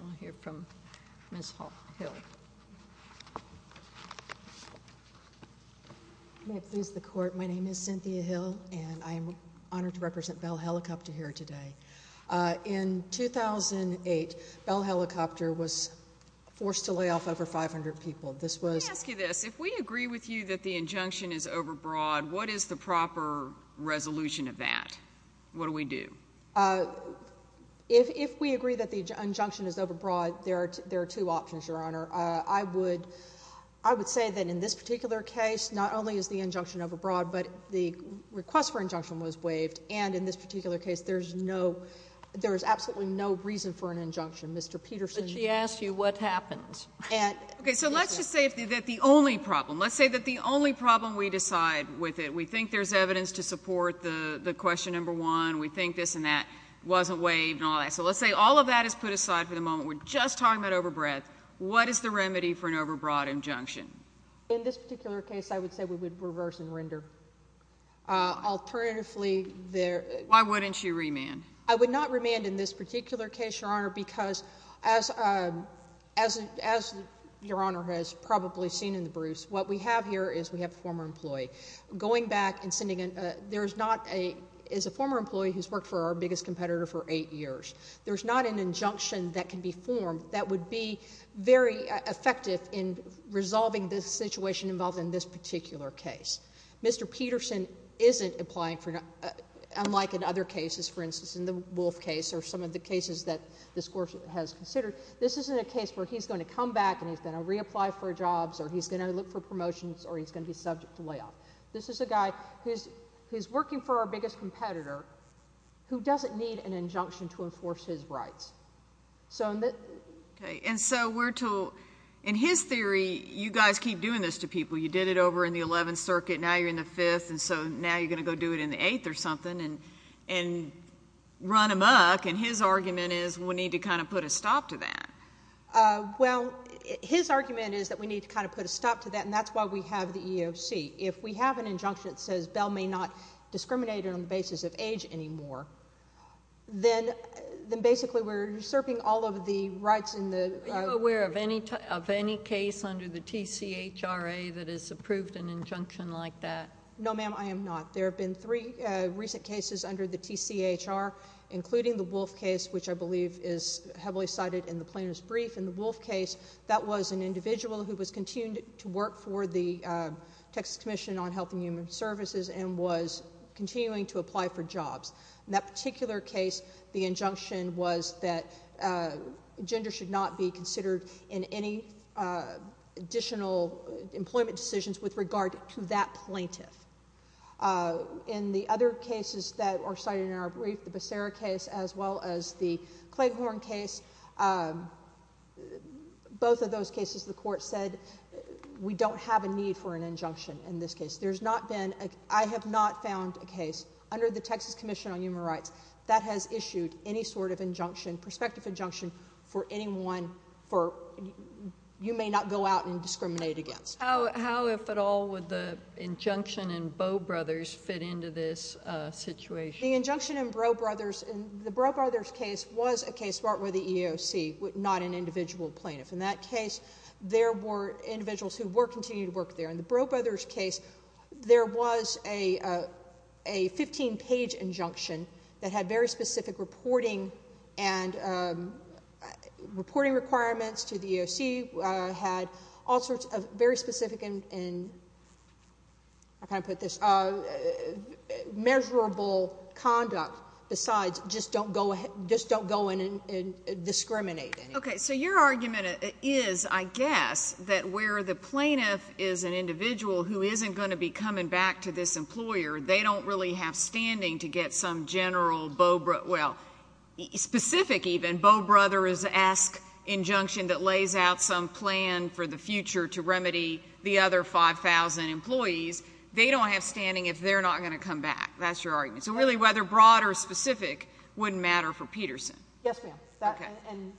We'll hear from Ms. Hill. May it please the Court, my name is Cynthia Hill, and I am honored to represent Bell Helicopter here today. In 2008, Bell Helicopter was forced to lay off over 500 people. Let me ask you this. If we agree with you that the injunction is overbroad, what is the proper resolution of that? What do we do? If we agree that the injunction is overbroad, there are two options, Your Honor. I would say that in this particular case, not only is the injunction overbroad, but the request for injunction was waived, and in this particular case there is absolutely no reason for an injunction. But she asked you what happened. Okay, so let's just say that the only problem, let's say that the only problem we decide with it, we think there's evidence to support the question number one, we think this and that wasn't waived and all that. So let's say all of that is put aside for the moment. We're just talking about overbreadth. What is the remedy for an overbroad injunction? In this particular case, I would say we would reverse and render. Alternatively, there— Why wouldn't you remand? I would not remand in this particular case, Your Honor, because as Your Honor has probably seen in the briefs, what we have here is we have a former employee. Going back and sending—there is not a—is a former employee who's worked for our biggest competitor for eight years. There's not an injunction that can be formed that would be very effective in resolving this situation involved in this particular case. Mr. Peterson isn't applying for—unlike in other cases, for instance, in the Wolf case or some of the cases that this Court has considered, this isn't a case where he's going to come back and he's going to reapply for jobs or he's going to look for promotions or he's going to be subject to layoff. This is a guy who's working for our biggest competitor who doesn't need an injunction to enforce his rights. And so we're to—in his theory, you guys keep doing this to people. You did it over in the Eleventh Circuit. Now you're in the Fifth, and so now you're going to go do it in the Eighth or something and run amok. And his argument is we need to kind of put a stop to that. Well, his argument is that we need to kind of put a stop to that, and that's why we have the EEOC. If we have an injunction that says Bell may not discriminate on the basis of age anymore, then basically we're usurping all of the rights in the— Are you aware of any case under the TCHRA that has approved an injunction like that? No, ma'am, I am not. There have been three recent cases under the TCHR, including the Wolf case, which I believe is heavily cited in the plaintiff's brief. In the Wolf case, that was an individual who was continuing to work for the Texas Commission on Health and Human Services and was continuing to apply for jobs. In that particular case, the injunction was that gender should not be considered in any additional employment decisions with regard to that plaintiff. In the other cases that are cited in our brief, the Becerra case as well as the Clayhorn case, both of those cases the court said we don't have a need for an injunction in this case. There's not been—I have not found a case under the Texas Commission on Human Rights that has issued any sort of injunction, prospective injunction, for anyone for—you may not go out and discriminate against. How, if at all, would the injunction in Bowe Brothers fit into this situation? The injunction in Bowe Brothers—the Bowe Brothers case was a case brought with the EEOC, not an individual plaintiff. In that case, there were individuals who were continuing to work there. In the Bowe Brothers case, there was a 15-page injunction that had very specific reporting and reporting requirements to the EEOC, had all sorts of very specific and—how can I put this—measurable conduct, besides just don't go in and discriminate in it. Okay, so your argument is, I guess, that where the plaintiff is an individual who isn't going to be coming back to this employer, they don't really have standing to get some general Bowe—well, specific even. Bowe Brothers-esque injunction that lays out some plan for the future to remedy the other 5,000 employees, they don't have standing if they're not going to come back. That's your argument. So really, whether broad or specific wouldn't matter for Peterson. Yes, ma'am.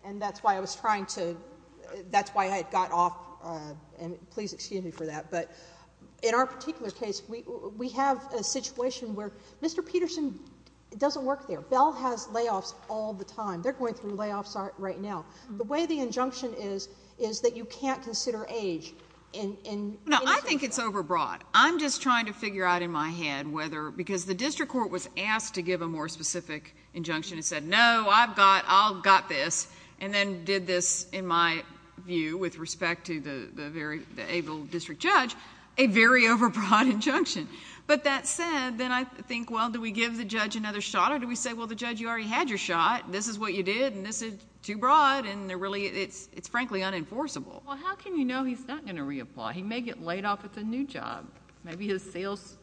And that's why I was trying to—that's why I got off—and please excuse me for that. But in our particular case, we have a situation where Mr. Peterson doesn't work there. Bell has layoffs all the time. They're going through layoffs right now. The way the injunction is, is that you can't consider age in— No, I think it's overbroad. I'm just trying to figure out in my head whether—because the district court was asked to give a more specific injunction. It said, no, I've got—I'll got this, and then did this in my view with respect to the able district judge, a very overbroad injunction. But that said, then I think, well, do we give the judge another shot, or do we say, well, the judge, you already had your shot. This is what you did, and this is too broad, and they're really—it's frankly unenforceable. Well, how can you know he's not going to reapply? He may get laid off at the new job. Maybe his sales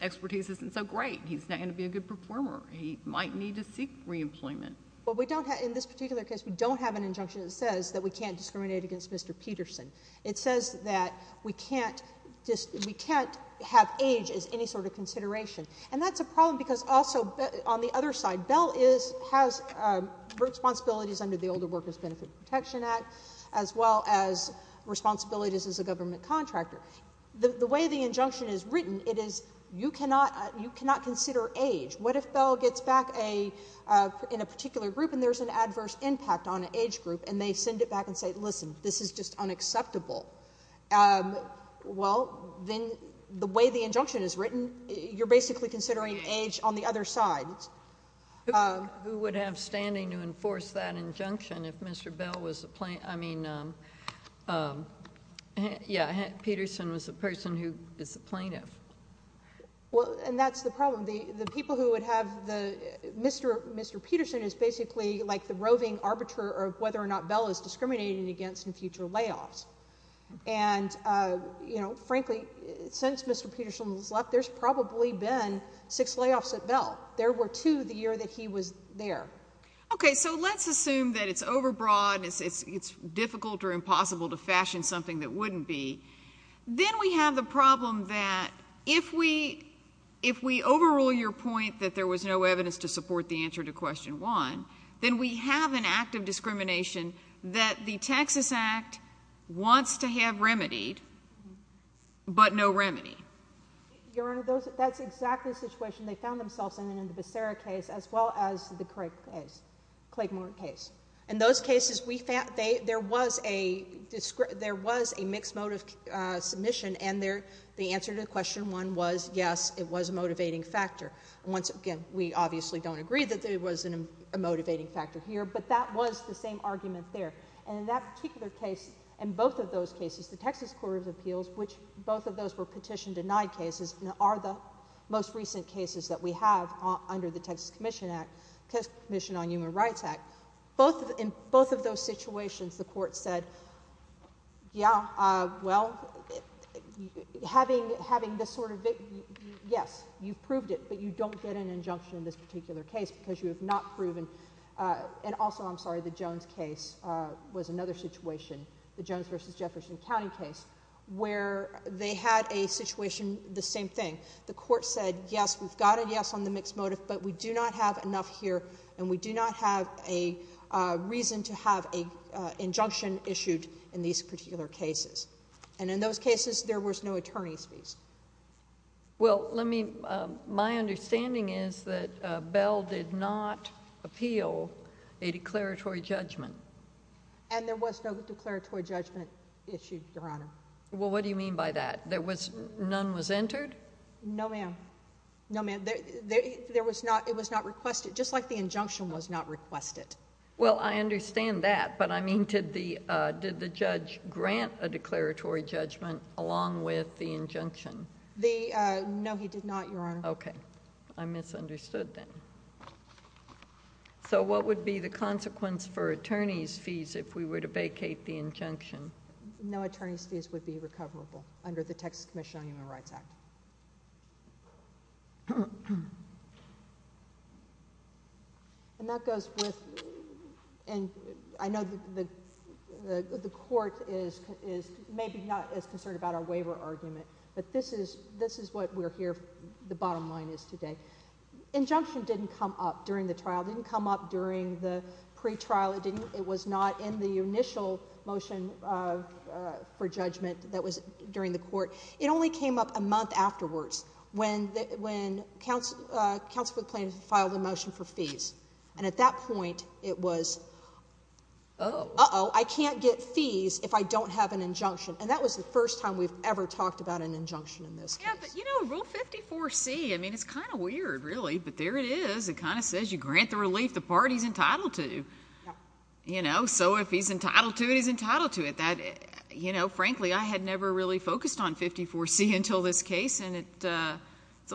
expertise isn't so great. He's not going to be a good performer. He might need to seek reemployment. Well, we don't have—in this particular case, we don't have an injunction that says that we can't discriminate against Mr. Peterson. It says that we can't have age as any sort of consideration. And that's a problem because also, on the other side, Bell has responsibilities under the Older Workers Benefit Protection Act, as well as responsibilities as a government contractor. The way the injunction is written, it is, you cannot consider age. What if Bell gets back in a particular group, and there's an adverse impact on an age group, and they send it back and say, listen, this is just unacceptable? Well, then the way the injunction is written, you're basically considering age on the other side. Who would have standing to enforce that injunction if Mr. Bell was a plaintiff? I mean, yeah, Peterson was a person who is a plaintiff. Well, and that's the problem. The people who would have the—Mr. Peterson is basically like the roving arbiter of whether or not Bell is discriminated against in future layoffs. And, you know, frankly, since Mr. Peterson has left, there's probably been six layoffs at Bell. There were two the year that he was there. Okay, so let's assume that it's overbroad, it's difficult or impossible to fashion something that wouldn't be. Then we have the problem that if we overrule your point that there was no evidence to support the answer to question one, then we have an act of discrimination that the Texas Act wants to have remedied, but no remedy. Your Honor, that's exactly the situation they found themselves in in the Becerra case as well as the Craig case, Claymore case. In those cases, there was a mixed mode of submission, and the answer to question one was, yes, it was a motivating factor. Once again, we obviously don't agree that it was a motivating factor here, but that was the same argument there. And in that particular case and both of those cases, the Texas Court of Appeals, which both of those were petition denied cases, are the most recent cases that we have under the Texas Commission on Human Rights Act. In both of those situations, the court said, yeah, well, having this sort of, yes, you proved it, but you don't get an injunction in this particular case because you have not proven. And also, I'm sorry, the Jones case was another situation, the Jones v. Jefferson County case, where they had a situation, the same thing. The court said, yes, we've got a yes on the mixed motive, but we do not have enough here, and we do not have a reason to have an injunction issued in these particular cases. And in those cases, there was no attorney's fees. Well, let me, my understanding is that Bell did not appeal a declaratory judgment. And there was no declaratory judgment issued, Your Honor. Well, what do you mean by that? There was, none was entered? No, ma'am. No, ma'am. There was not, it was not requested, just like the injunction was not requested. Well, I understand that, but I mean, did the judge grant a declaratory judgment along with the injunction? No, he did not, Your Honor. Okay. I misunderstood then. So what would be the consequence for attorney's fees if we were to vacate the injunction? No attorney's fees would be recoverable under the Texas Commission on Human Rights Act. And that goes with, and I know the court is maybe not as concerned about our waiver argument, but this is what we're here, the bottom line is today. Injunction didn't come up during the trial. It didn't come up during the pretrial. It didn't, it was not in the initial motion for judgment that was during the court. It only came up a month afterwards when, when counsel, counsel filed a motion for fees. And at that point, it was, uh-oh, I can't get fees if I don't have an injunction. And that was the first time we've ever talked about an injunction in this case. Yeah, but, you know, Rule 54C, I mean, it's kind of weird, really, but there it is. It kind of says you grant the relief the part he's entitled to. Yeah. You know, so if he's entitled to it, he's entitled to it. That, you know, frankly, I had never really focused on 54C until this case, and it's a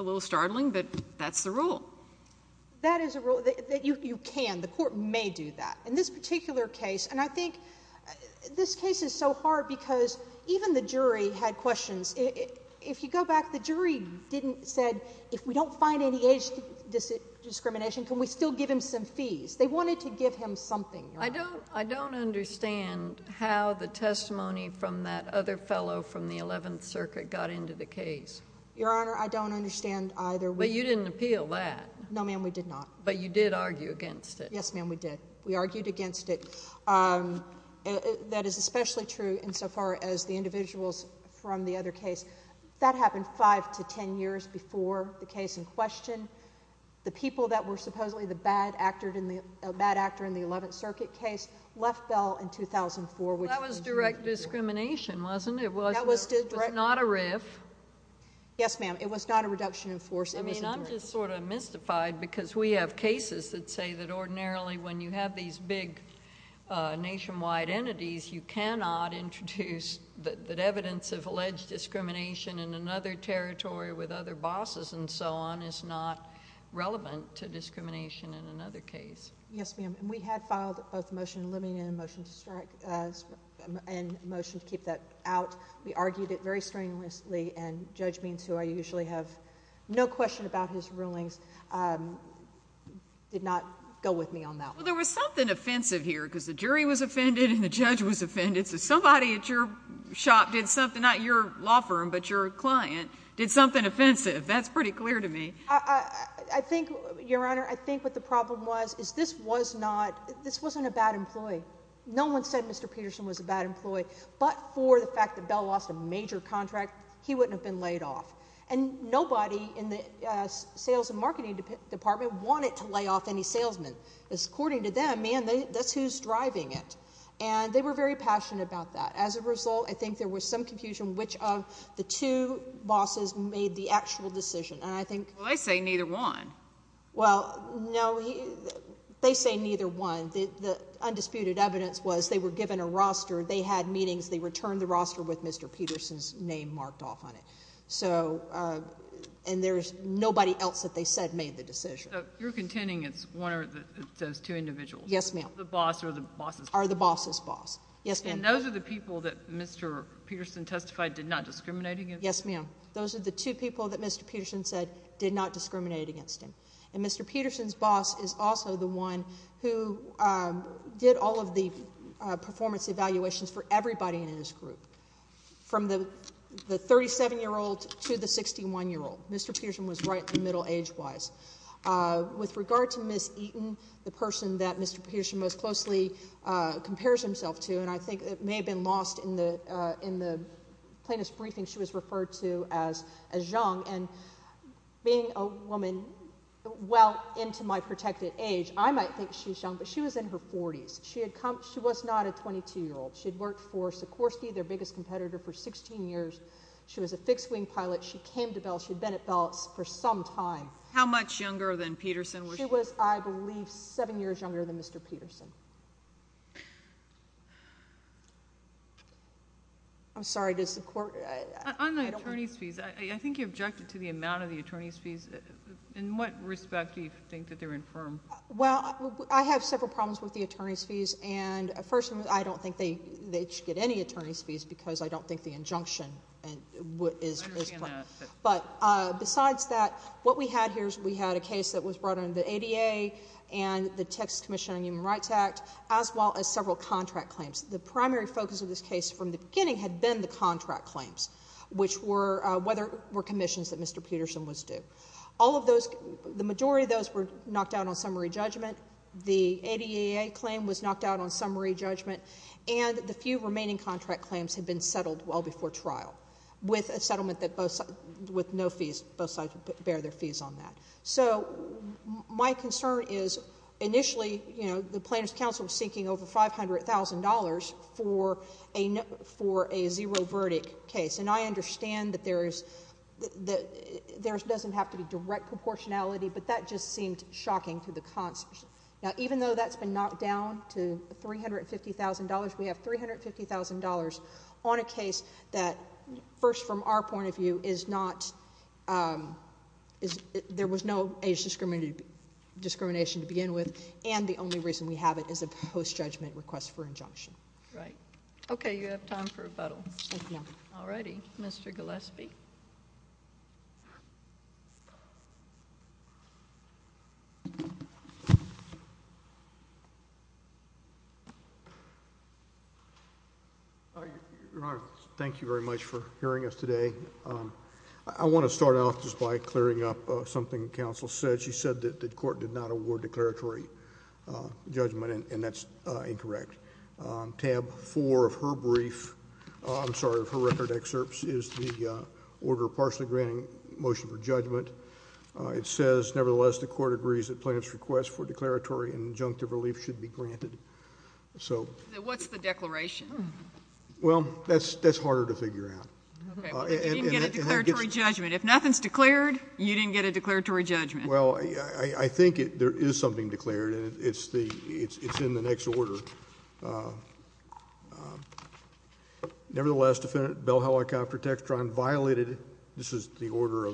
little startling, but that's the rule. That is a rule that you can, the court may do that. In this particular case, and I think this case is so hard because even the jury had questions. If you go back, the jury didn't say, if we don't find any age discrimination, can we still give him some fees? They wanted to give him something. I don't understand how the testimony from that other fellow from the 11th Circuit got into the case. Your Honor, I don't understand either. But you didn't appeal that. No, ma'am, we did not. But you did argue against it. Yes, ma'am, we did. We argued against it. That is especially true insofar as the individuals from the other case. That happened five to ten years before the case in question. The people that were supposedly the bad actor in the 11th Circuit case left Bell in 2004. That was direct discrimination, wasn't it? It was not a riff. Yes, ma'am. It was not a reduction in force. I'm just sort of mystified because we have cases that say that ordinarily when you have these big nationwide entities, you cannot introduce that evidence of alleged discrimination in another territory with other bosses and so on is not relevant to discrimination in another case. Yes, ma'am. We had filed both a motion to eliminate it and a motion to keep that out. We argued it very strenuously, and Judge Means, who I usually have no question about his rulings, did not go with me on that one. Well, there was something offensive here because the jury was offended and the judge was offended. So somebody at your shop did something, not your law firm but your client, did something offensive. That's pretty clear to me. I think, Your Honor, I think what the problem was is this was not a bad employee. No one said Mr. Peterson was a bad employee. But for the fact that Bell lost a major contract, he wouldn't have been laid off. And nobody in the sales and marketing department wanted to lay off any salesmen. According to them, man, that's who's driving it. And they were very passionate about that. As a result, I think there was some confusion which of the two bosses made the actual decision. And I think— Well, I say neither one. Well, no, they say neither one. The undisputed evidence was they were given a roster. They had meetings. They returned the roster with Mr. Peterson's name marked off on it. So—and there's nobody else that they said made the decision. So you're contending it's one of those two individuals? Yes, ma'am. The boss or the boss's boss? Or the boss's boss. Yes, ma'am. And those are the people that Mr. Peterson testified did not discriminate against? Yes, ma'am. Those are the two people that Mr. Peterson said did not discriminate against him. And Mr. Peterson's boss is also the one who did all of the performance evaluations for everybody in his group, from the 37-year-old to the 61-year-old. Mr. Peterson was right in the middle age-wise. With regard to Ms. Eaton, the person that Mr. Peterson most closely compares himself to, and I think it may have been lost in the plaintiff's briefing she was referred to as young, and being a woman well into my protected age, I might think she's young, but she was in her 40s. She was not a 22-year-old. She had worked for Sikorsky, their biggest competitor, for 16 years. She was a fixed-wing pilot. She came to Bell. She had been at Bell for some time. How much younger than Peterson was she? She was, I believe, seven years younger than Mr. Peterson. I'm sorry, does the court— On the attorney's fees, I think you objected to the amount of the attorney's fees. In what respect do you think that they're infirm? Well, I have several problems with the attorney's fees. First of all, I don't think they should get any attorney's fees because I don't think the injunction is— I understand that. But besides that, what we had here is we had a case that was brought under the ADA and the Texas Commission on Human Rights Act, as well as several contract claims. The primary focus of this case from the beginning had been the contract claims, whether it were commissions that Mr. Peterson was due. The majority of those were knocked out on summary judgment. The ADA claim was knocked out on summary judgment, and the few remaining contract claims had been settled well before trial with no fees. Both sides would bear their fees on that. So my concern is initially, you know, the plaintiff's counsel was seeking over $500,000 for a zero-verdict case, and I understand that there doesn't have to be direct proportionality, but that just seemed shocking to the cons. Now, even though that's been knocked down to $350,000, we have $350,000 on a case that, first, from our point of view, is not— there was no age discrimination to begin with, and the only reason we have it is a post-judgment request for injunction. Right. Okay. You have time for rebuttal. Thank you. All righty. Mr. Gillespie? Your Honor, thank you very much for hearing us today. I want to start off just by clearing up something the counsel said. She said that the court did not award declaratory judgment, and that's incorrect. Tab 4 of her brief—I'm sorry, of her record excerpts is the order partially granting motion for judgment. It says, nevertheless, the court agrees that plaintiff's request for declaratory and injunctive relief should be granted. What's the declaration? Well, that's harder to figure out. Okay, but you didn't get a declaratory judgment. If nothing's declared, you didn't get a declaratory judgment. Well, I think there is something declared, and it's in the next order. Nevertheless, defendant Bell Helicopter Textron violated—this is the order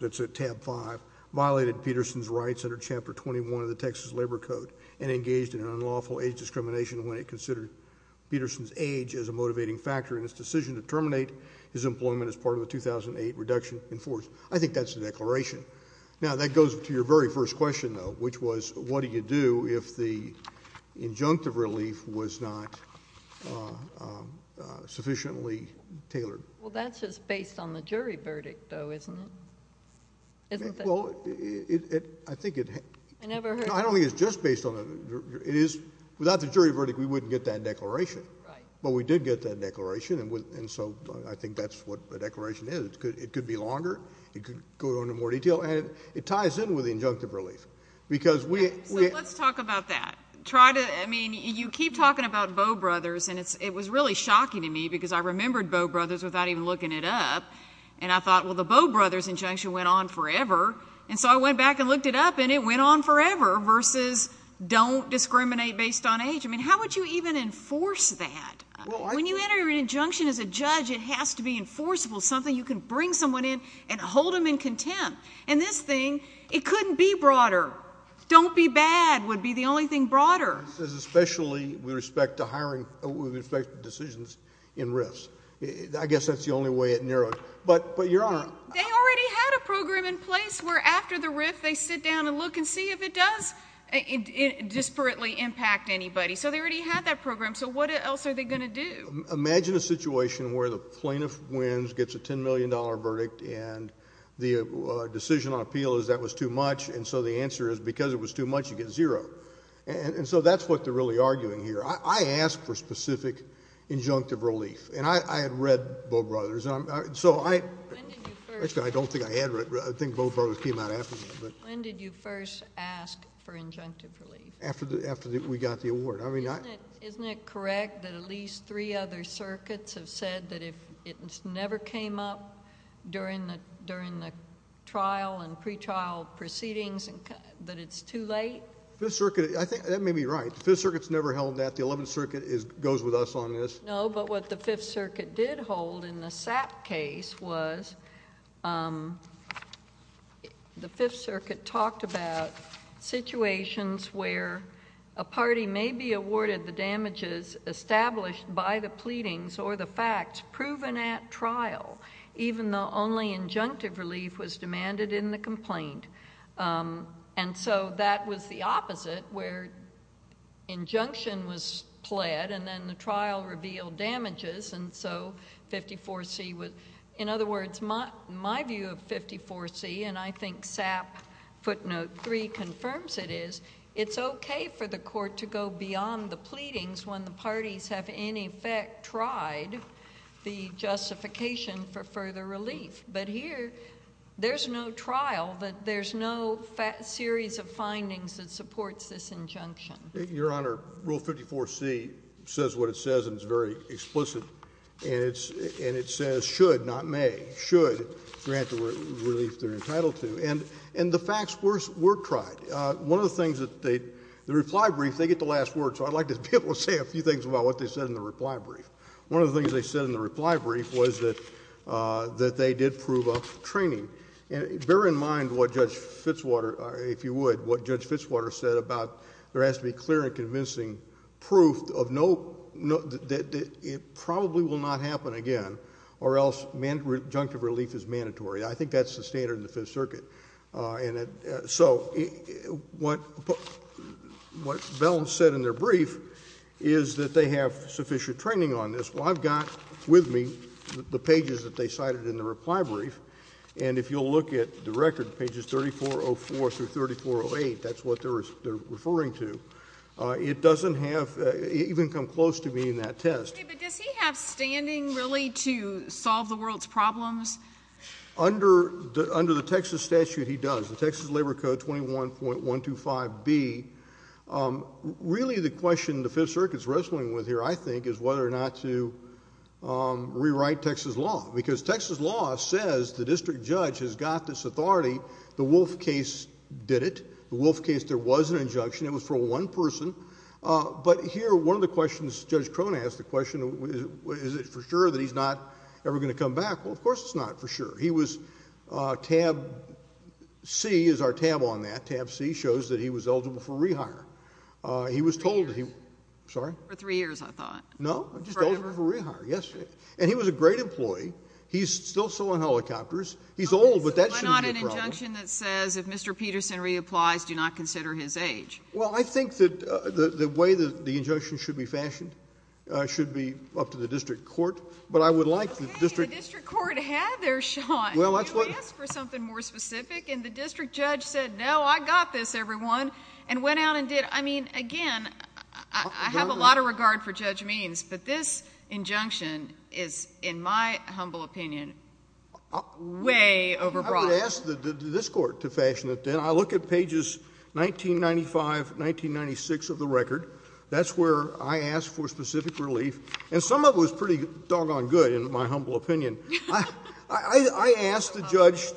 that's at tab 5— violated Peterson's rights under Chapter 21 of the Texas Labor Code and engaged in unlawful age discrimination when it considered Peterson's age as a motivating factor in his decision to terminate his employment as part of the 2008 reduction in force. I think that's the declaration. Now, that goes to your very first question, though, which was what do you do if the injunctive relief was not sufficiently tailored? Well, that's just based on the jury verdict, though, isn't it? Well, I think it— I never heard— No, I don't think it's just based on—it is—without the jury verdict, we wouldn't get that declaration. Right. But we did get that declaration, and so I think that's what a declaration is. It could be longer. It could go into more detail. And it ties in with the injunctive relief because we— So let's talk about that. Try to—I mean, you keep talking about Bowe Brothers, and it was really shocking to me because I remembered Bowe Brothers without even looking it up, and I thought, well, the Bowe Brothers injunction went on forever. And so I went back and looked it up, and it went on forever versus don't discriminate based on age. I mean, how would you even enforce that? When you enter an injunction as a judge, it has to be enforceable, something you can bring someone in and hold them in contempt. And this thing, it couldn't be broader. Don't be bad would be the only thing broader. This is especially with respect to hiring—with respect to decisions in risks. I guess that's the only way it narrowed. But, Your Honor— They already had a program in place where after the rift, they sit down and look and see if it does disparately impact anybody. So they already had that program. So what else are they going to do? Imagine a situation where the plaintiff wins, gets a $10 million verdict, and the decision on appeal is that was too much, and so the answer is because it was too much, you get zero. And so that's what they're really arguing here. I asked for specific injunctive relief, and I had read Bowe Brothers. So I— When did you first— Actually, I don't think I had read—I think Bowe Brothers came out after me. When did you first ask for injunctive relief? After we got the award. I mean, I— Isn't it correct that at least three other circuits have said that if it never came up during the trial and pretrial proceedings, that it's too late? Fifth Circuit—I think that may be right. The Fifth Circuit's never held that. The Eleventh Circuit goes with us on this. No, but what the Fifth Circuit did hold in the Sapp case was the Fifth Circuit talked about situations where a party may be awarded the damages established by the pleadings or the facts proven at trial, even though only injunctive relief was demanded in the complaint. And so that was the opposite, where injunction was pled, and then the trial revealed damages, and so 54C was—in other words, my view of 54C, and I think Sapp footnote 3 confirms it is, it's okay for the court to go beyond the pleadings when the parties have in effect tried the justification for further relief. But here, there's no trial, but there's no series of findings that supports this injunction. Your Honor, Rule 54C says what it says, and it's very explicit. And it says should, not may, should grant the relief they're entitled to. And the facts were tried. One of the things that they—the reply brief, they get the last word, so I'd like to be able to say a few things about what they said in the reply brief. One of the things they said in the reply brief was that they did prove a training. And bear in mind what Judge Fitzwater, if you would, what Judge Fitzwater said about there has to be clear and convincing proof of no—that it probably will not happen again, or else injunctive relief is mandatory. I think that's the standard in the Fifth Circuit. So what Bell said in their brief is that they have sufficient training on this. Well, I've got with me the pages that they cited in the reply brief, and if you'll look at the record, pages 3404 through 3408, that's what they're referring to. It doesn't have—it didn't come close to being that test. Okay, but does he have standing really to solve the world's problems? Under the Texas statute, he does. The Texas Labor Code 21.125B, really the question the Fifth Circuit's wrestling with here, I think, is whether or not to rewrite Texas law, because Texas law says the district judge has got this authority. The Wolf case did it. The Wolf case, there was an injunction. It was for one person. But here, one of the questions Judge Crone asked, the question, is it for sure that he's not ever going to come back? Well, of course it's not for sure. He was—Tab C is our tab on that. Tab C shows that he was eligible for rehire. He was told— Three years. Sorry? For three years, I thought. No, just eligible for rehire. Forever? Yes. And he was a great employee. He's still sewing helicopters. He's old, but that shouldn't be a problem. Okay, so why not an injunction that says if Mr. Peterson reapplies, do not consider his age? Well, I think that the way the injunction should be fashioned should be up to the district court, but I would like the district— Okay, the district court had their shot. Well, that's what— You asked for something more specific, and the district judge said, no, I got this, everyone, and went out and did—I mean, again, I have a lot of regard for Judge Means, but this injunction is, in my humble opinion, way overbroad. I would ask this court to fashion it, then. I look at pages 1995, 1996 of the record. That's where I asked for specific relief. And some of it was pretty doggone good, in my humble opinion. I asked the judge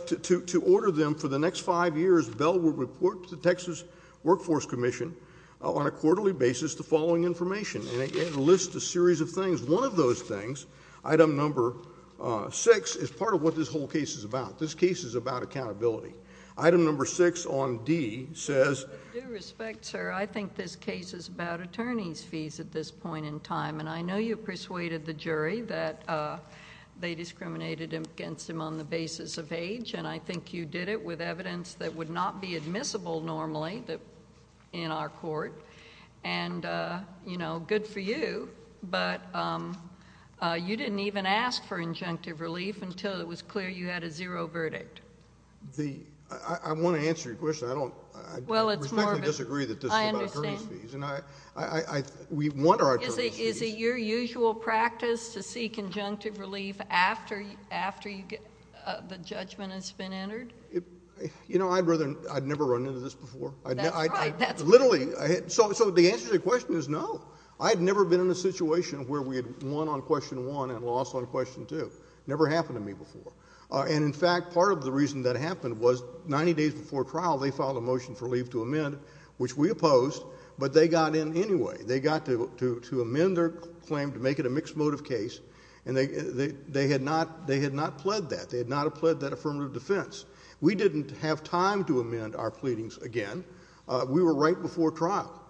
to order them for the next five years, Bell would report to the Texas Workforce Commission on a quarterly basis the following information, and it lists a series of things. One of those things, item number six, is part of what this whole case is about. This case is about accountability. Item number six on D says— With due respect, sir, I think this case is about attorney's fees at this point in time, and I know you persuaded the jury that they discriminated against him on the basis of age, and I think you did it with evidence that would not be admissible normally in our court, and, you know, good for you, but you didn't even ask for injunctive relief until it was clear you had a zero verdict. I want to answer your question. I respectfully disagree that this is about attorney's fees. I understand. We want our attorney's fees. Is it your usual practice to seek injunctive relief after the judgment has been entered? You know, I'd rather—I'd never run into this before. That's right. Literally. So the answer to your question is no. I had never been in a situation where we had won on question one and lost on question two. Never happened to me before. And, in fact, part of the reason that happened was 90 days before trial, they filed a motion for leave to amend, which we opposed, but they got in anyway. They got to amend their claim to make it a mixed motive case, and they had not pled that. They had not pled that affirmative defense. We didn't have time to amend our pleadings again. We were right before trial.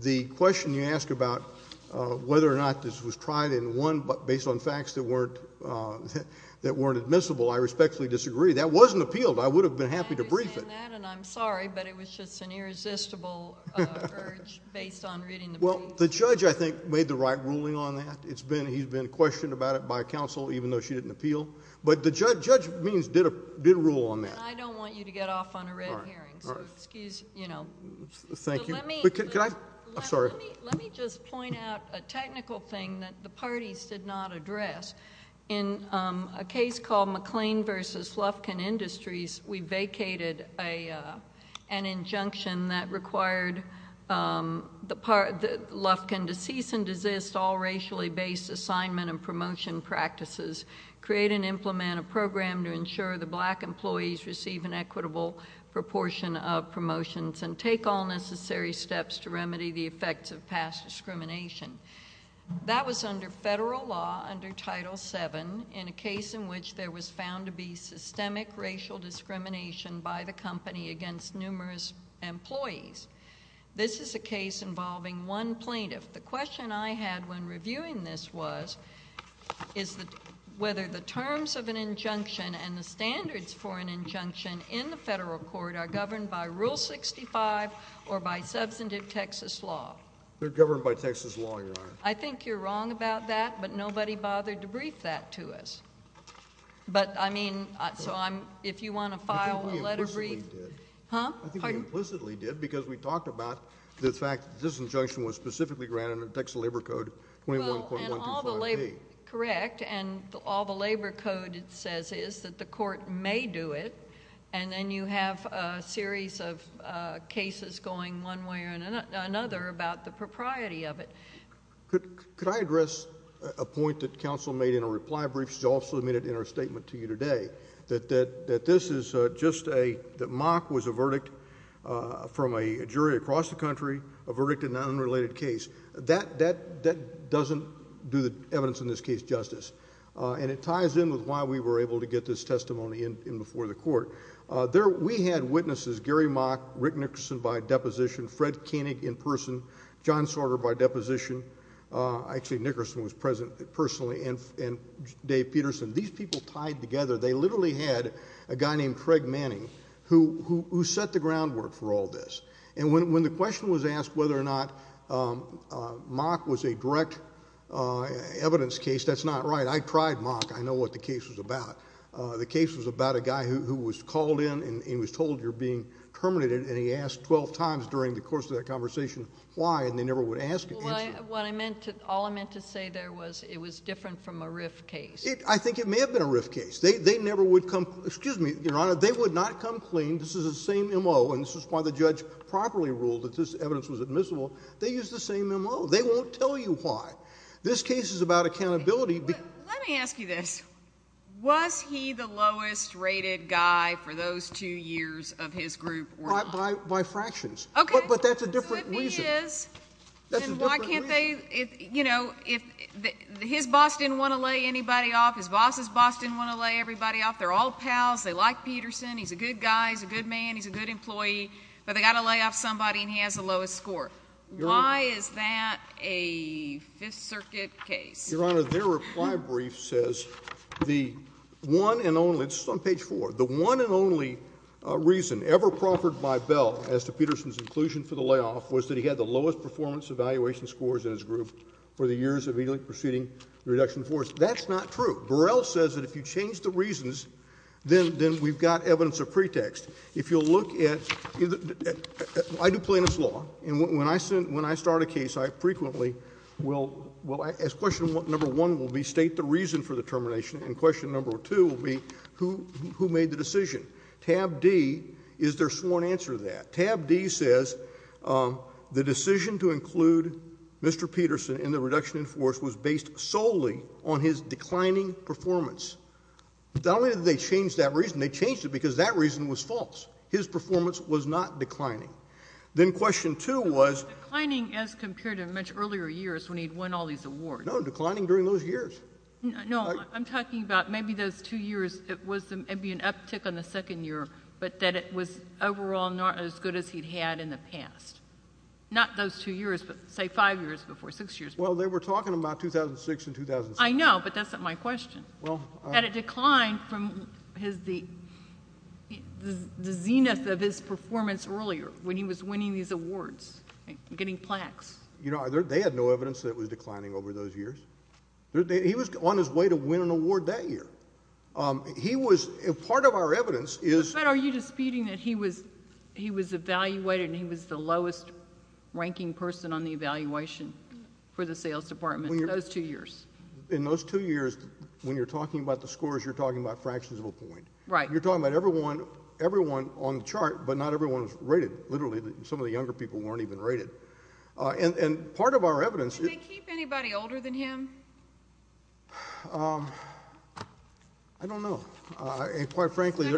The question you ask about whether or not this was tried and won based on facts that weren't admissible, I respectfully disagree. That wasn't appealed. I would have been happy to brief it. I understand that, and I'm sorry, but it was just an irresistible urge based on reading the brief. Well, the judge, I think, made the right ruling on that. He's been questioned about it by counsel, even though she didn't appeal. But the judge means did rule on that. I don't want you to get off on a red herring, so excuse, you know— Thank you. But let me— Can I—I'm sorry. Let me just point out a technical thing that the parties did not address. In a case called McLean v. Lufkin Industries, we vacated an injunction that required Lufkin to cease and desist all racially-based assignment and promotion practices, create and implement a program to ensure the black employees receive an equitable proportion of promotions, and take all necessary steps to remedy the effects of past discrimination. That was under federal law, under Title VII, in a case in which there was found to be systemic racial discrimination by the company against numerous employees. This is a case involving one plaintiff. The question I had when reviewing this was whether the terms of an injunction and the standards for an injunction in the federal court are governed by Rule 65 or by substantive Texas law. They're governed by Texas law, Your Honor. I think you're wrong about that, but nobody bothered to brief that to us. But, I mean, so I'm—if you want to file a letter of brief— I think we implicitly did. Huh? Pardon? I think we implicitly did because we talked about the fact that this injunction was specifically granted under Texas Labor Code 21.125B. Well, and all the Labor—correct. And all the Labor Code says is that the court may do it, and then you have a series of cases going one way or another about the propriety of it. Could I address a point that counsel made in a reply brief? She also made it in her statement to you today, that this is just a—that mock was a verdict from a jury across the country, a verdict in an unrelated case. That doesn't do the evidence in this case justice, and it ties in with why we were able to get this testimony in before the court. We had witnesses, Gary Mock, Rick Nickerson by deposition, Fred Koenig in person, John Sorter by deposition. Actually, Nickerson was present personally, and Dave Peterson. These people tied together. They literally had a guy named Craig Manning who set the groundwork for all this. And when the question was asked whether or not mock was a direct evidence case, that's not right. I tried mock. I know what the case was about. The case was about a guy who was called in and was told you're being terminated, and he asked 12 times during the course of that conversation why, and they never would answer. Well, what I meant to—all I meant to say there was it was different from a RIF case. I think it may have been a RIF case. They never would come—excuse me, Your Honor, they would not come clean. This is the same M.O., and this is why the judge properly ruled that this evidence was admissible. They used the same M.O. They won't tell you why. This case is about accountability. Let me ask you this. Was he the lowest rated guy for those two years of his group or not? By fractions. Okay. But that's a different reason. So if he is, then why can't they—you know, his boss didn't want to lay anybody off. His boss's boss didn't want to lay everybody off. They're all pals. They like Peterson. He's a good guy. He's a good man. He's a good employee. But they've got to lay off somebody, and he has the lowest score. Why is that a Fifth Circuit case? Your Honor, their reply brief says the one and only—this is on page 4— the one and only reason ever proffered by Bell as to Peterson's inclusion for the layoff was that he had the lowest performance evaluation scores in his group for the years immediately preceding the reduction in force. That's not true. Burrell says that if you change the reasons, then we've got evidence of pretext. If you'll look at—I do plaintiff's law, and when I start a case, I frequently will— question number one will be state the reason for the termination, and question number two will be who made the decision. Tab D is their sworn answer to that. Tab D says the decision to include Mr. Peterson in the reduction in force was based solely on his declining performance. Not only did they change that reason, they changed it because that reason was false. His performance was not declining. Then question two was— Declining as compared to much earlier years when he'd won all these awards. No, declining during those years. No, I'm talking about maybe those two years, it was maybe an uptick on the second year, but that it was overall not as good as he'd had in the past. Not those two years, but say five years before, six years before. Well, they were talking about 2006 and 2007. I know, but that's not my question. At a decline from his—the zenith of his performance earlier when he was winning these awards, getting plaques. You know, they had no evidence that it was declining over those years. He was on his way to win an award that year. He was—part of our evidence is— But are you disputing that he was evaluated and he was the lowest-ranking person on the evaluation for the sales department those two years? In those two years, when you're talking about the scores, you're talking about fractions of a point. Right. You're talking about everyone on the chart, but not everyone was rated, literally. Some of the younger people weren't even rated. And part of our evidence— Did they keep anybody older than him? I don't know. Quite frankly,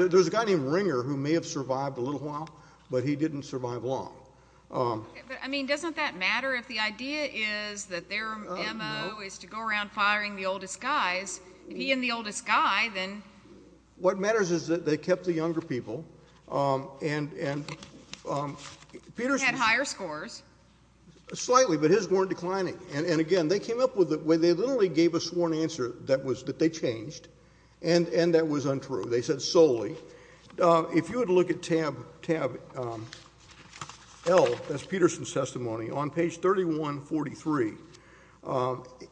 there's a guy named Ringer who may have survived a little while, but he didn't survive long. But, I mean, doesn't that matter if the idea is that their MO is to go around firing the oldest guys? If he and the oldest guy, then— What matters is that they kept the younger people, and Peter— He had higher scores. Slightly, but his weren't declining. And, again, they came up with—they literally gave a sworn answer that they changed, and that was untrue. They said solely. If you would look at tab L, that's Peterson's testimony, on page 3143,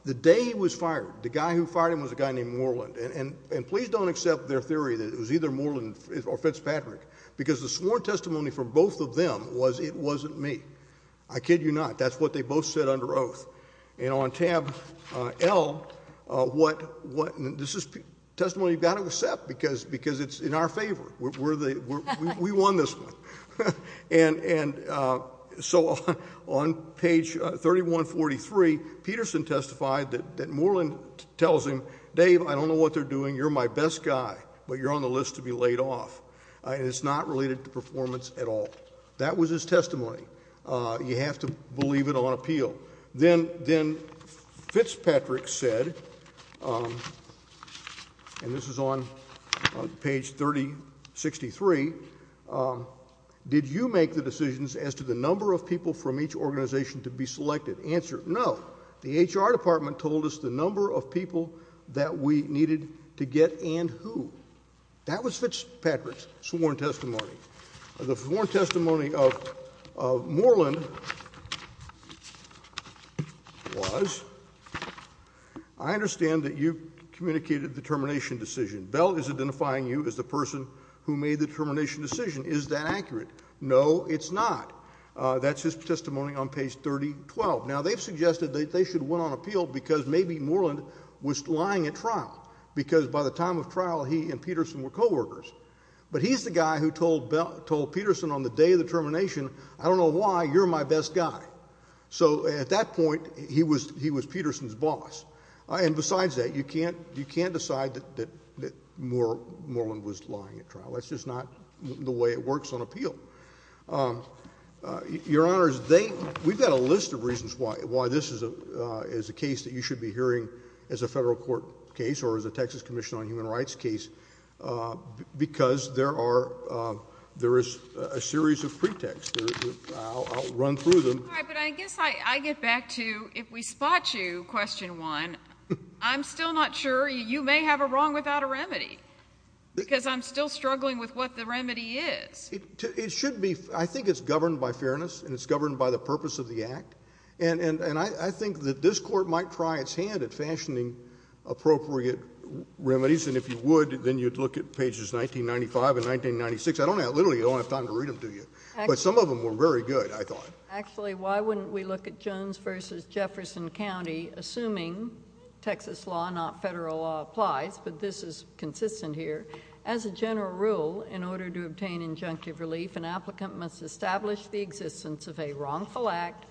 the day he was fired, the guy who fired him was a guy named Moreland. And please don't accept their theory that it was either Moreland or Fitzpatrick, because the sworn testimony from both of them was it wasn't me. I kid you not. That's what they both said under oath. And on tab L, this is testimony you've got to accept, because it's in our favor. We won this one. And so on page 3143, Peterson testified that Moreland tells him, Dave, I don't know what they're doing. You're my best guy, but you're on the list to be laid off. And it's not related to performance at all. That was his testimony. You have to believe it on appeal. Then Fitzpatrick said, and this is on page 3063, did you make the decisions as to the number of people from each organization to be selected? Answer, no. The HR department told us the number of people that we needed to get and who. That was Fitzpatrick's sworn testimony. The sworn testimony of Moreland was, I understand that you communicated the termination decision. Bell is identifying you as the person who made the termination decision. Is that accurate? No, it's not. That's his testimony on page 3012. Now, they've suggested that they should win on appeal because maybe Moreland was lying at trial, because by the time of trial, he and Peterson were coworkers. But he's the guy who told Peterson on the day of the termination, I don't know why, you're my best guy. So at that point, he was Peterson's boss. And besides that, you can't decide that Moreland was lying at trial. That's just not the way it works on appeal. Your Honor, we've got a list of reasons why this is a case that you should be hearing as a federal court case or as a Texas Commission on Human Rights case, because there is a series of pretexts. I'll run through them. All right, but I guess I get back to if we spot you, question one, I'm still not sure. You may have a wrong without a remedy, because I'm still struggling with what the remedy is. It should be, I think it's governed by fairness, and it's governed by the purpose of the act. And I think that this Court might try its hand at fashioning appropriate remedies, and if you would, then you'd look at pages 1995 and 1996. I don't have, literally, I don't have time to read them to you. But some of them were very good, I thought. Actually, why wouldn't we look at Jones v. Jefferson County, assuming Texas law, not federal law, applies, but this is consistent here, as a general rule, in order to obtain injunctive relief, an applicant must establish the existence of a wrongful act,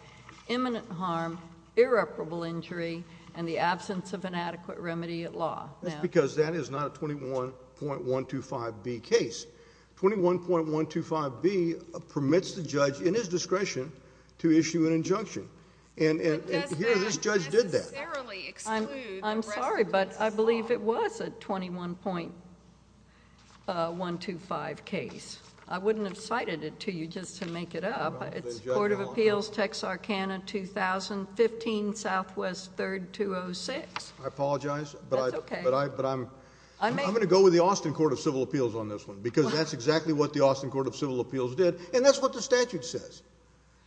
imminent harm, irreparable injury, and the absence of an adequate remedy at law. That's because that is not a 21.125B case. 21.125B permits the judge, in his discretion, to issue an injunction. And here, this judge did that. I'm sorry, but I believe it was a 21.125 case. I wouldn't have cited it to you just to make it up. It's Court of Appeals, Texarkana, 2015, Southwest, 3rd, 206. I apologize, but I'm going to go with the Austin Court of Civil Appeals on this one, because that's exactly what the Austin Court of Civil Appeals did, and that's what the statute says.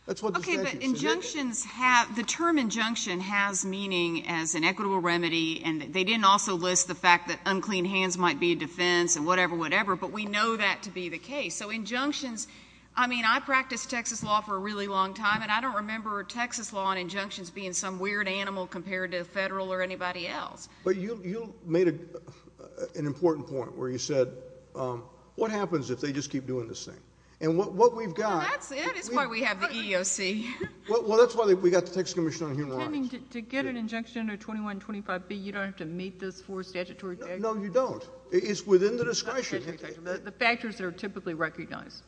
Okay, but injunctions have, the term injunction has meaning as an equitable remedy, and they didn't also list the fact that unclean hands might be a defense and whatever, whatever, but we know that to be the case. So injunctions, I mean, I practiced Texas law for a really long time, and I don't remember Texas law and injunctions being some weird animal compared to federal or anybody else. But you made an important point, where you said, what happens if they just keep doing this thing? Well, that's why we have the EEOC. Well, that's why we got the Texas Commission on Human Rights. To get an injunction under 21.25b, you don't have to meet those four statutory standards. No, you don't. It's within the discretion. The factors that are typically recognized.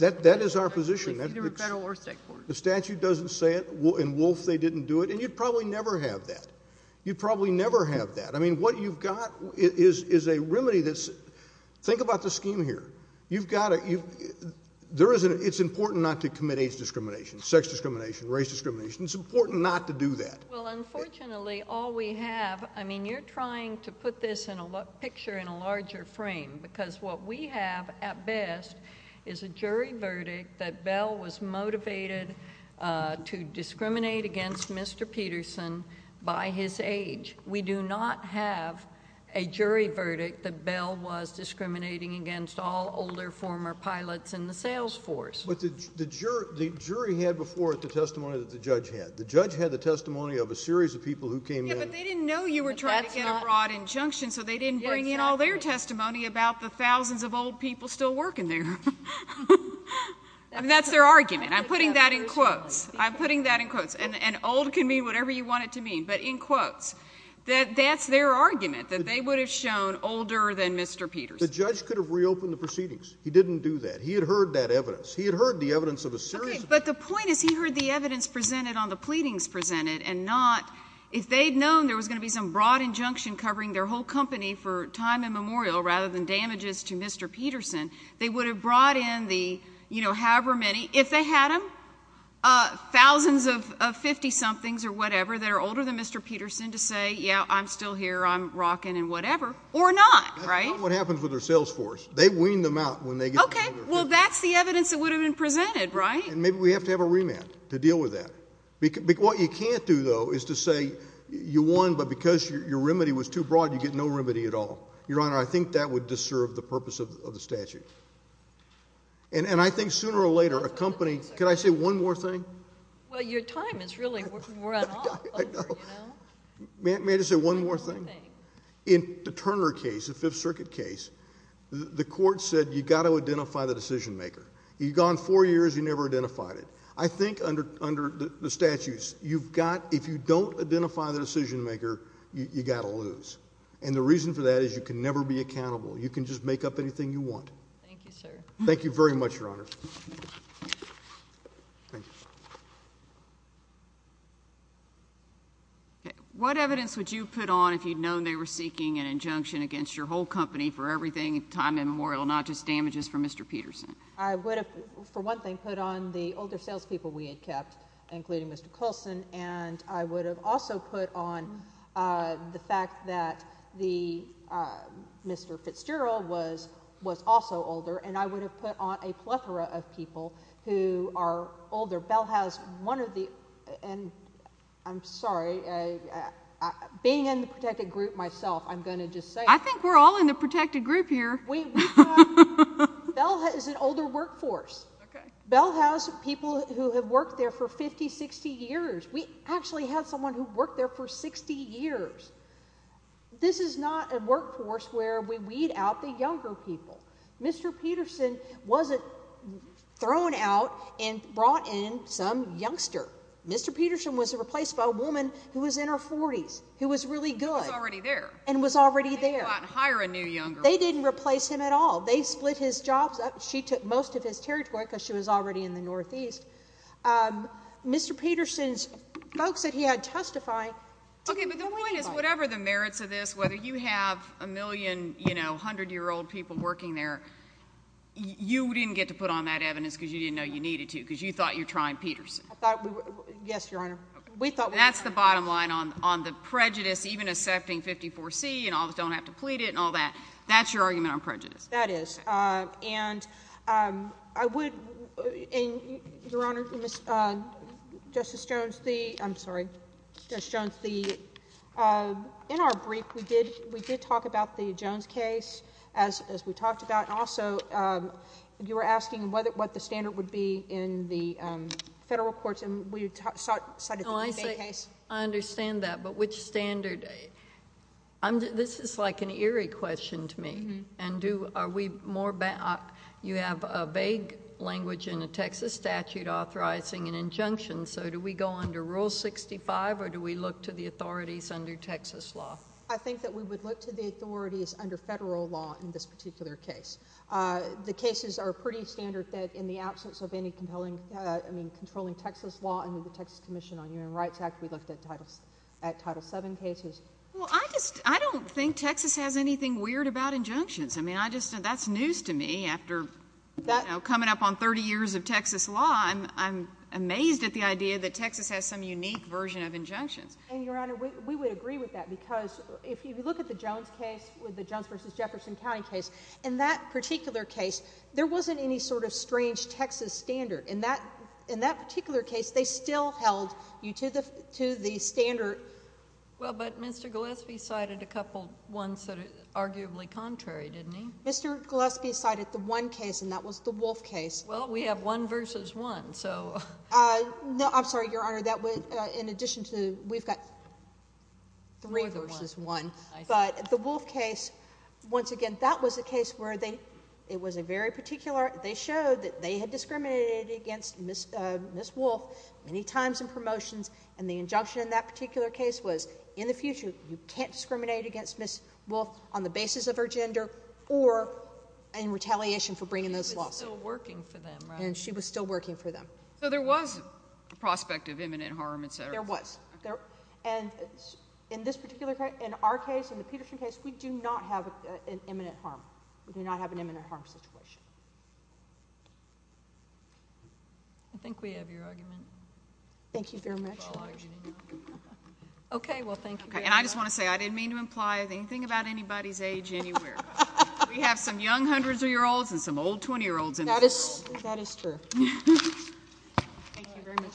That is our position. Either federal or state court. The statute doesn't say it, and wolf, they didn't do it, and you'd probably never have that. You'd probably never have that. I mean, what you've got is a remedy that's, think about the scheme here. It's important not to commit age discrimination, sex discrimination, race discrimination. It's important not to do that. Well, unfortunately, all we have, I mean, you're trying to put this picture in a larger frame. Because what we have at best is a jury verdict that Bell was motivated to discriminate against Mr. Peterson by his age. We do not have a jury verdict that Bell was discriminating against all older former pilots in the sales force. But the jury had before it the testimony that the judge had. The judge had the testimony of a series of people who came in. Yeah, but they didn't know you were trying to get a broad injunction, so they didn't bring in all their testimony about the thousands of old people still working there. I mean, that's their argument. I'm putting that in quotes. I'm putting that in quotes. And old can mean whatever you want it to mean. But in quotes. That's their argument, that they would have shown older than Mr. Peterson. The judge could have reopened the proceedings. He didn't do that. He had heard that evidence. He had heard the evidence of a series of people. Okay, but the point is he heard the evidence presented on the pleadings presented and not, if they had known there was going to be some broad injunction covering their whole company for time immemorial rather than damages to Mr. Peterson, they would have brought in however many, if they had them, thousands of 50-somethings or whatever that are older than Mr. Peterson to say, yeah, I'm still here. I'm rocking and whatever. Or not, right? That's not what happens with their sales force. They wean them out when they get older. Okay, well, that's the evidence that would have been presented, right? And maybe we have to have a remand to deal with that. What you can't do, though, is to say you won, but because your remedy was too broad, you get no remedy at all. Your Honor, I think that would disturb the purpose of the statute. And I think sooner or later a company – can I say one more thing? Well, your time is really run off. I know. May I just say one more thing? One more thing. In the Turner case, the Fifth Circuit case, the court said you've got to identify the decision maker. You've gone four years, you never identified it. I think under the statutes, you've got – if you don't identify the decision maker, you've got to lose. And the reason for that is you can never be accountable. You can just make up anything you want. Thank you, sir. Thank you very much, your Honor. Thank you. What evidence would you put on if you'd known they were seeking an injunction against your whole company for everything, time immemorial, not just damages for Mr. Peterson? I would have, for one thing, put on the older salespeople we had kept, including Mr. Colson, and I would have also put on the fact that Mr. Fitzgerald was also older, and I would have put on a plethora of people who are older. Bell House, one of the – and I'm sorry, being in the protected group myself, I'm going to just say – I think we're all in the protected group here. Bell is an older workforce. Okay. Bell House, people who have worked there for 50, 60 years. We actually had someone who worked there for 60 years. This is not a workforce where we weed out the younger people. Mr. Peterson wasn't thrown out and brought in some youngster. Mr. Peterson was replaced by a woman who was in her 40s, who was really good. And was already there. And was already there. They didn't replace him at all. They split his jobs up. She took most of his territory because she was already in the Northeast. Mr. Peterson's folks that he had testify to the point. Okay, but the point is, whatever the merits of this, whether you have a million, you know, hundred-year-old people working there, you didn't get to put on that evidence because you didn't know you needed to because you thought you're trying Peterson. Yes, Your Honor. That's the bottom line on the prejudice, even accepting 54C and don't have to plead it and all that. That's your argument on prejudice? That is. Yes. And I would... Your Honor, Justice Jones, the... I'm sorry. Justice Jones, the... In our brief, we did talk about the Jones case, as we talked about. And also, you were asking what the standard would be in the federal courts, and we cited the May case. No, I say... I understand that. But which standard... This is like an eerie question to me. And do... Are we more... You have a vague language in the Texas statute authorizing an injunction, so do we go under Rule 65 or do we look to the authorities under Texas law? I think that we would look to the authorities under federal law in this particular case. The cases are pretty standard that in the absence of any compelling... I mean, controlling Texas law under the Texas Commission on Human Rights Act, we looked at Title VII cases. Well, I just... I don't think Texas has anything weird about injunctions. I mean, I just... That's news to me after coming up on 30 years of Texas law. I'm amazed at the idea that Texas has some unique version of injunctions. And, Your Honor, we would agree with that because if you look at the Jones case, with the Jones v. Jefferson County case, in that particular case, there wasn't any sort of strange Texas standard. In that particular case, they still held you to the standard... Well, but Mr. Gillespie cited a couple ones that are arguably contrary, didn't he? Mr. Gillespie cited the one case, and that was the Wolf case. Well, we have one versus one, so... No, I'm sorry, Your Honor. That was in addition to... We've got three versus one. But the Wolf case, once again, that was a case where they... It was a very particular... They showed that they had discriminated against Ms. Wolf many times in promotions, and the injunction in that particular case was, in the future, you can't discriminate against Ms. Wolf on the basis of her gender or in retaliation for bringing this lawsuit. And she was still working for them, right? And she was still working for them. So there was a prospect of imminent harm, et cetera. There was. And in this particular case, in our case, in the Peterson case, we do not have an imminent harm. We do not have an imminent harm situation. I think we have your argument. Thank you very much. Okay. Well, thank you very much. And I just want to say, I didn't mean to imply anything about anybody's age anywhere. We have some young hundreds of year olds and some old 20 year olds. That is true. Thank you very much.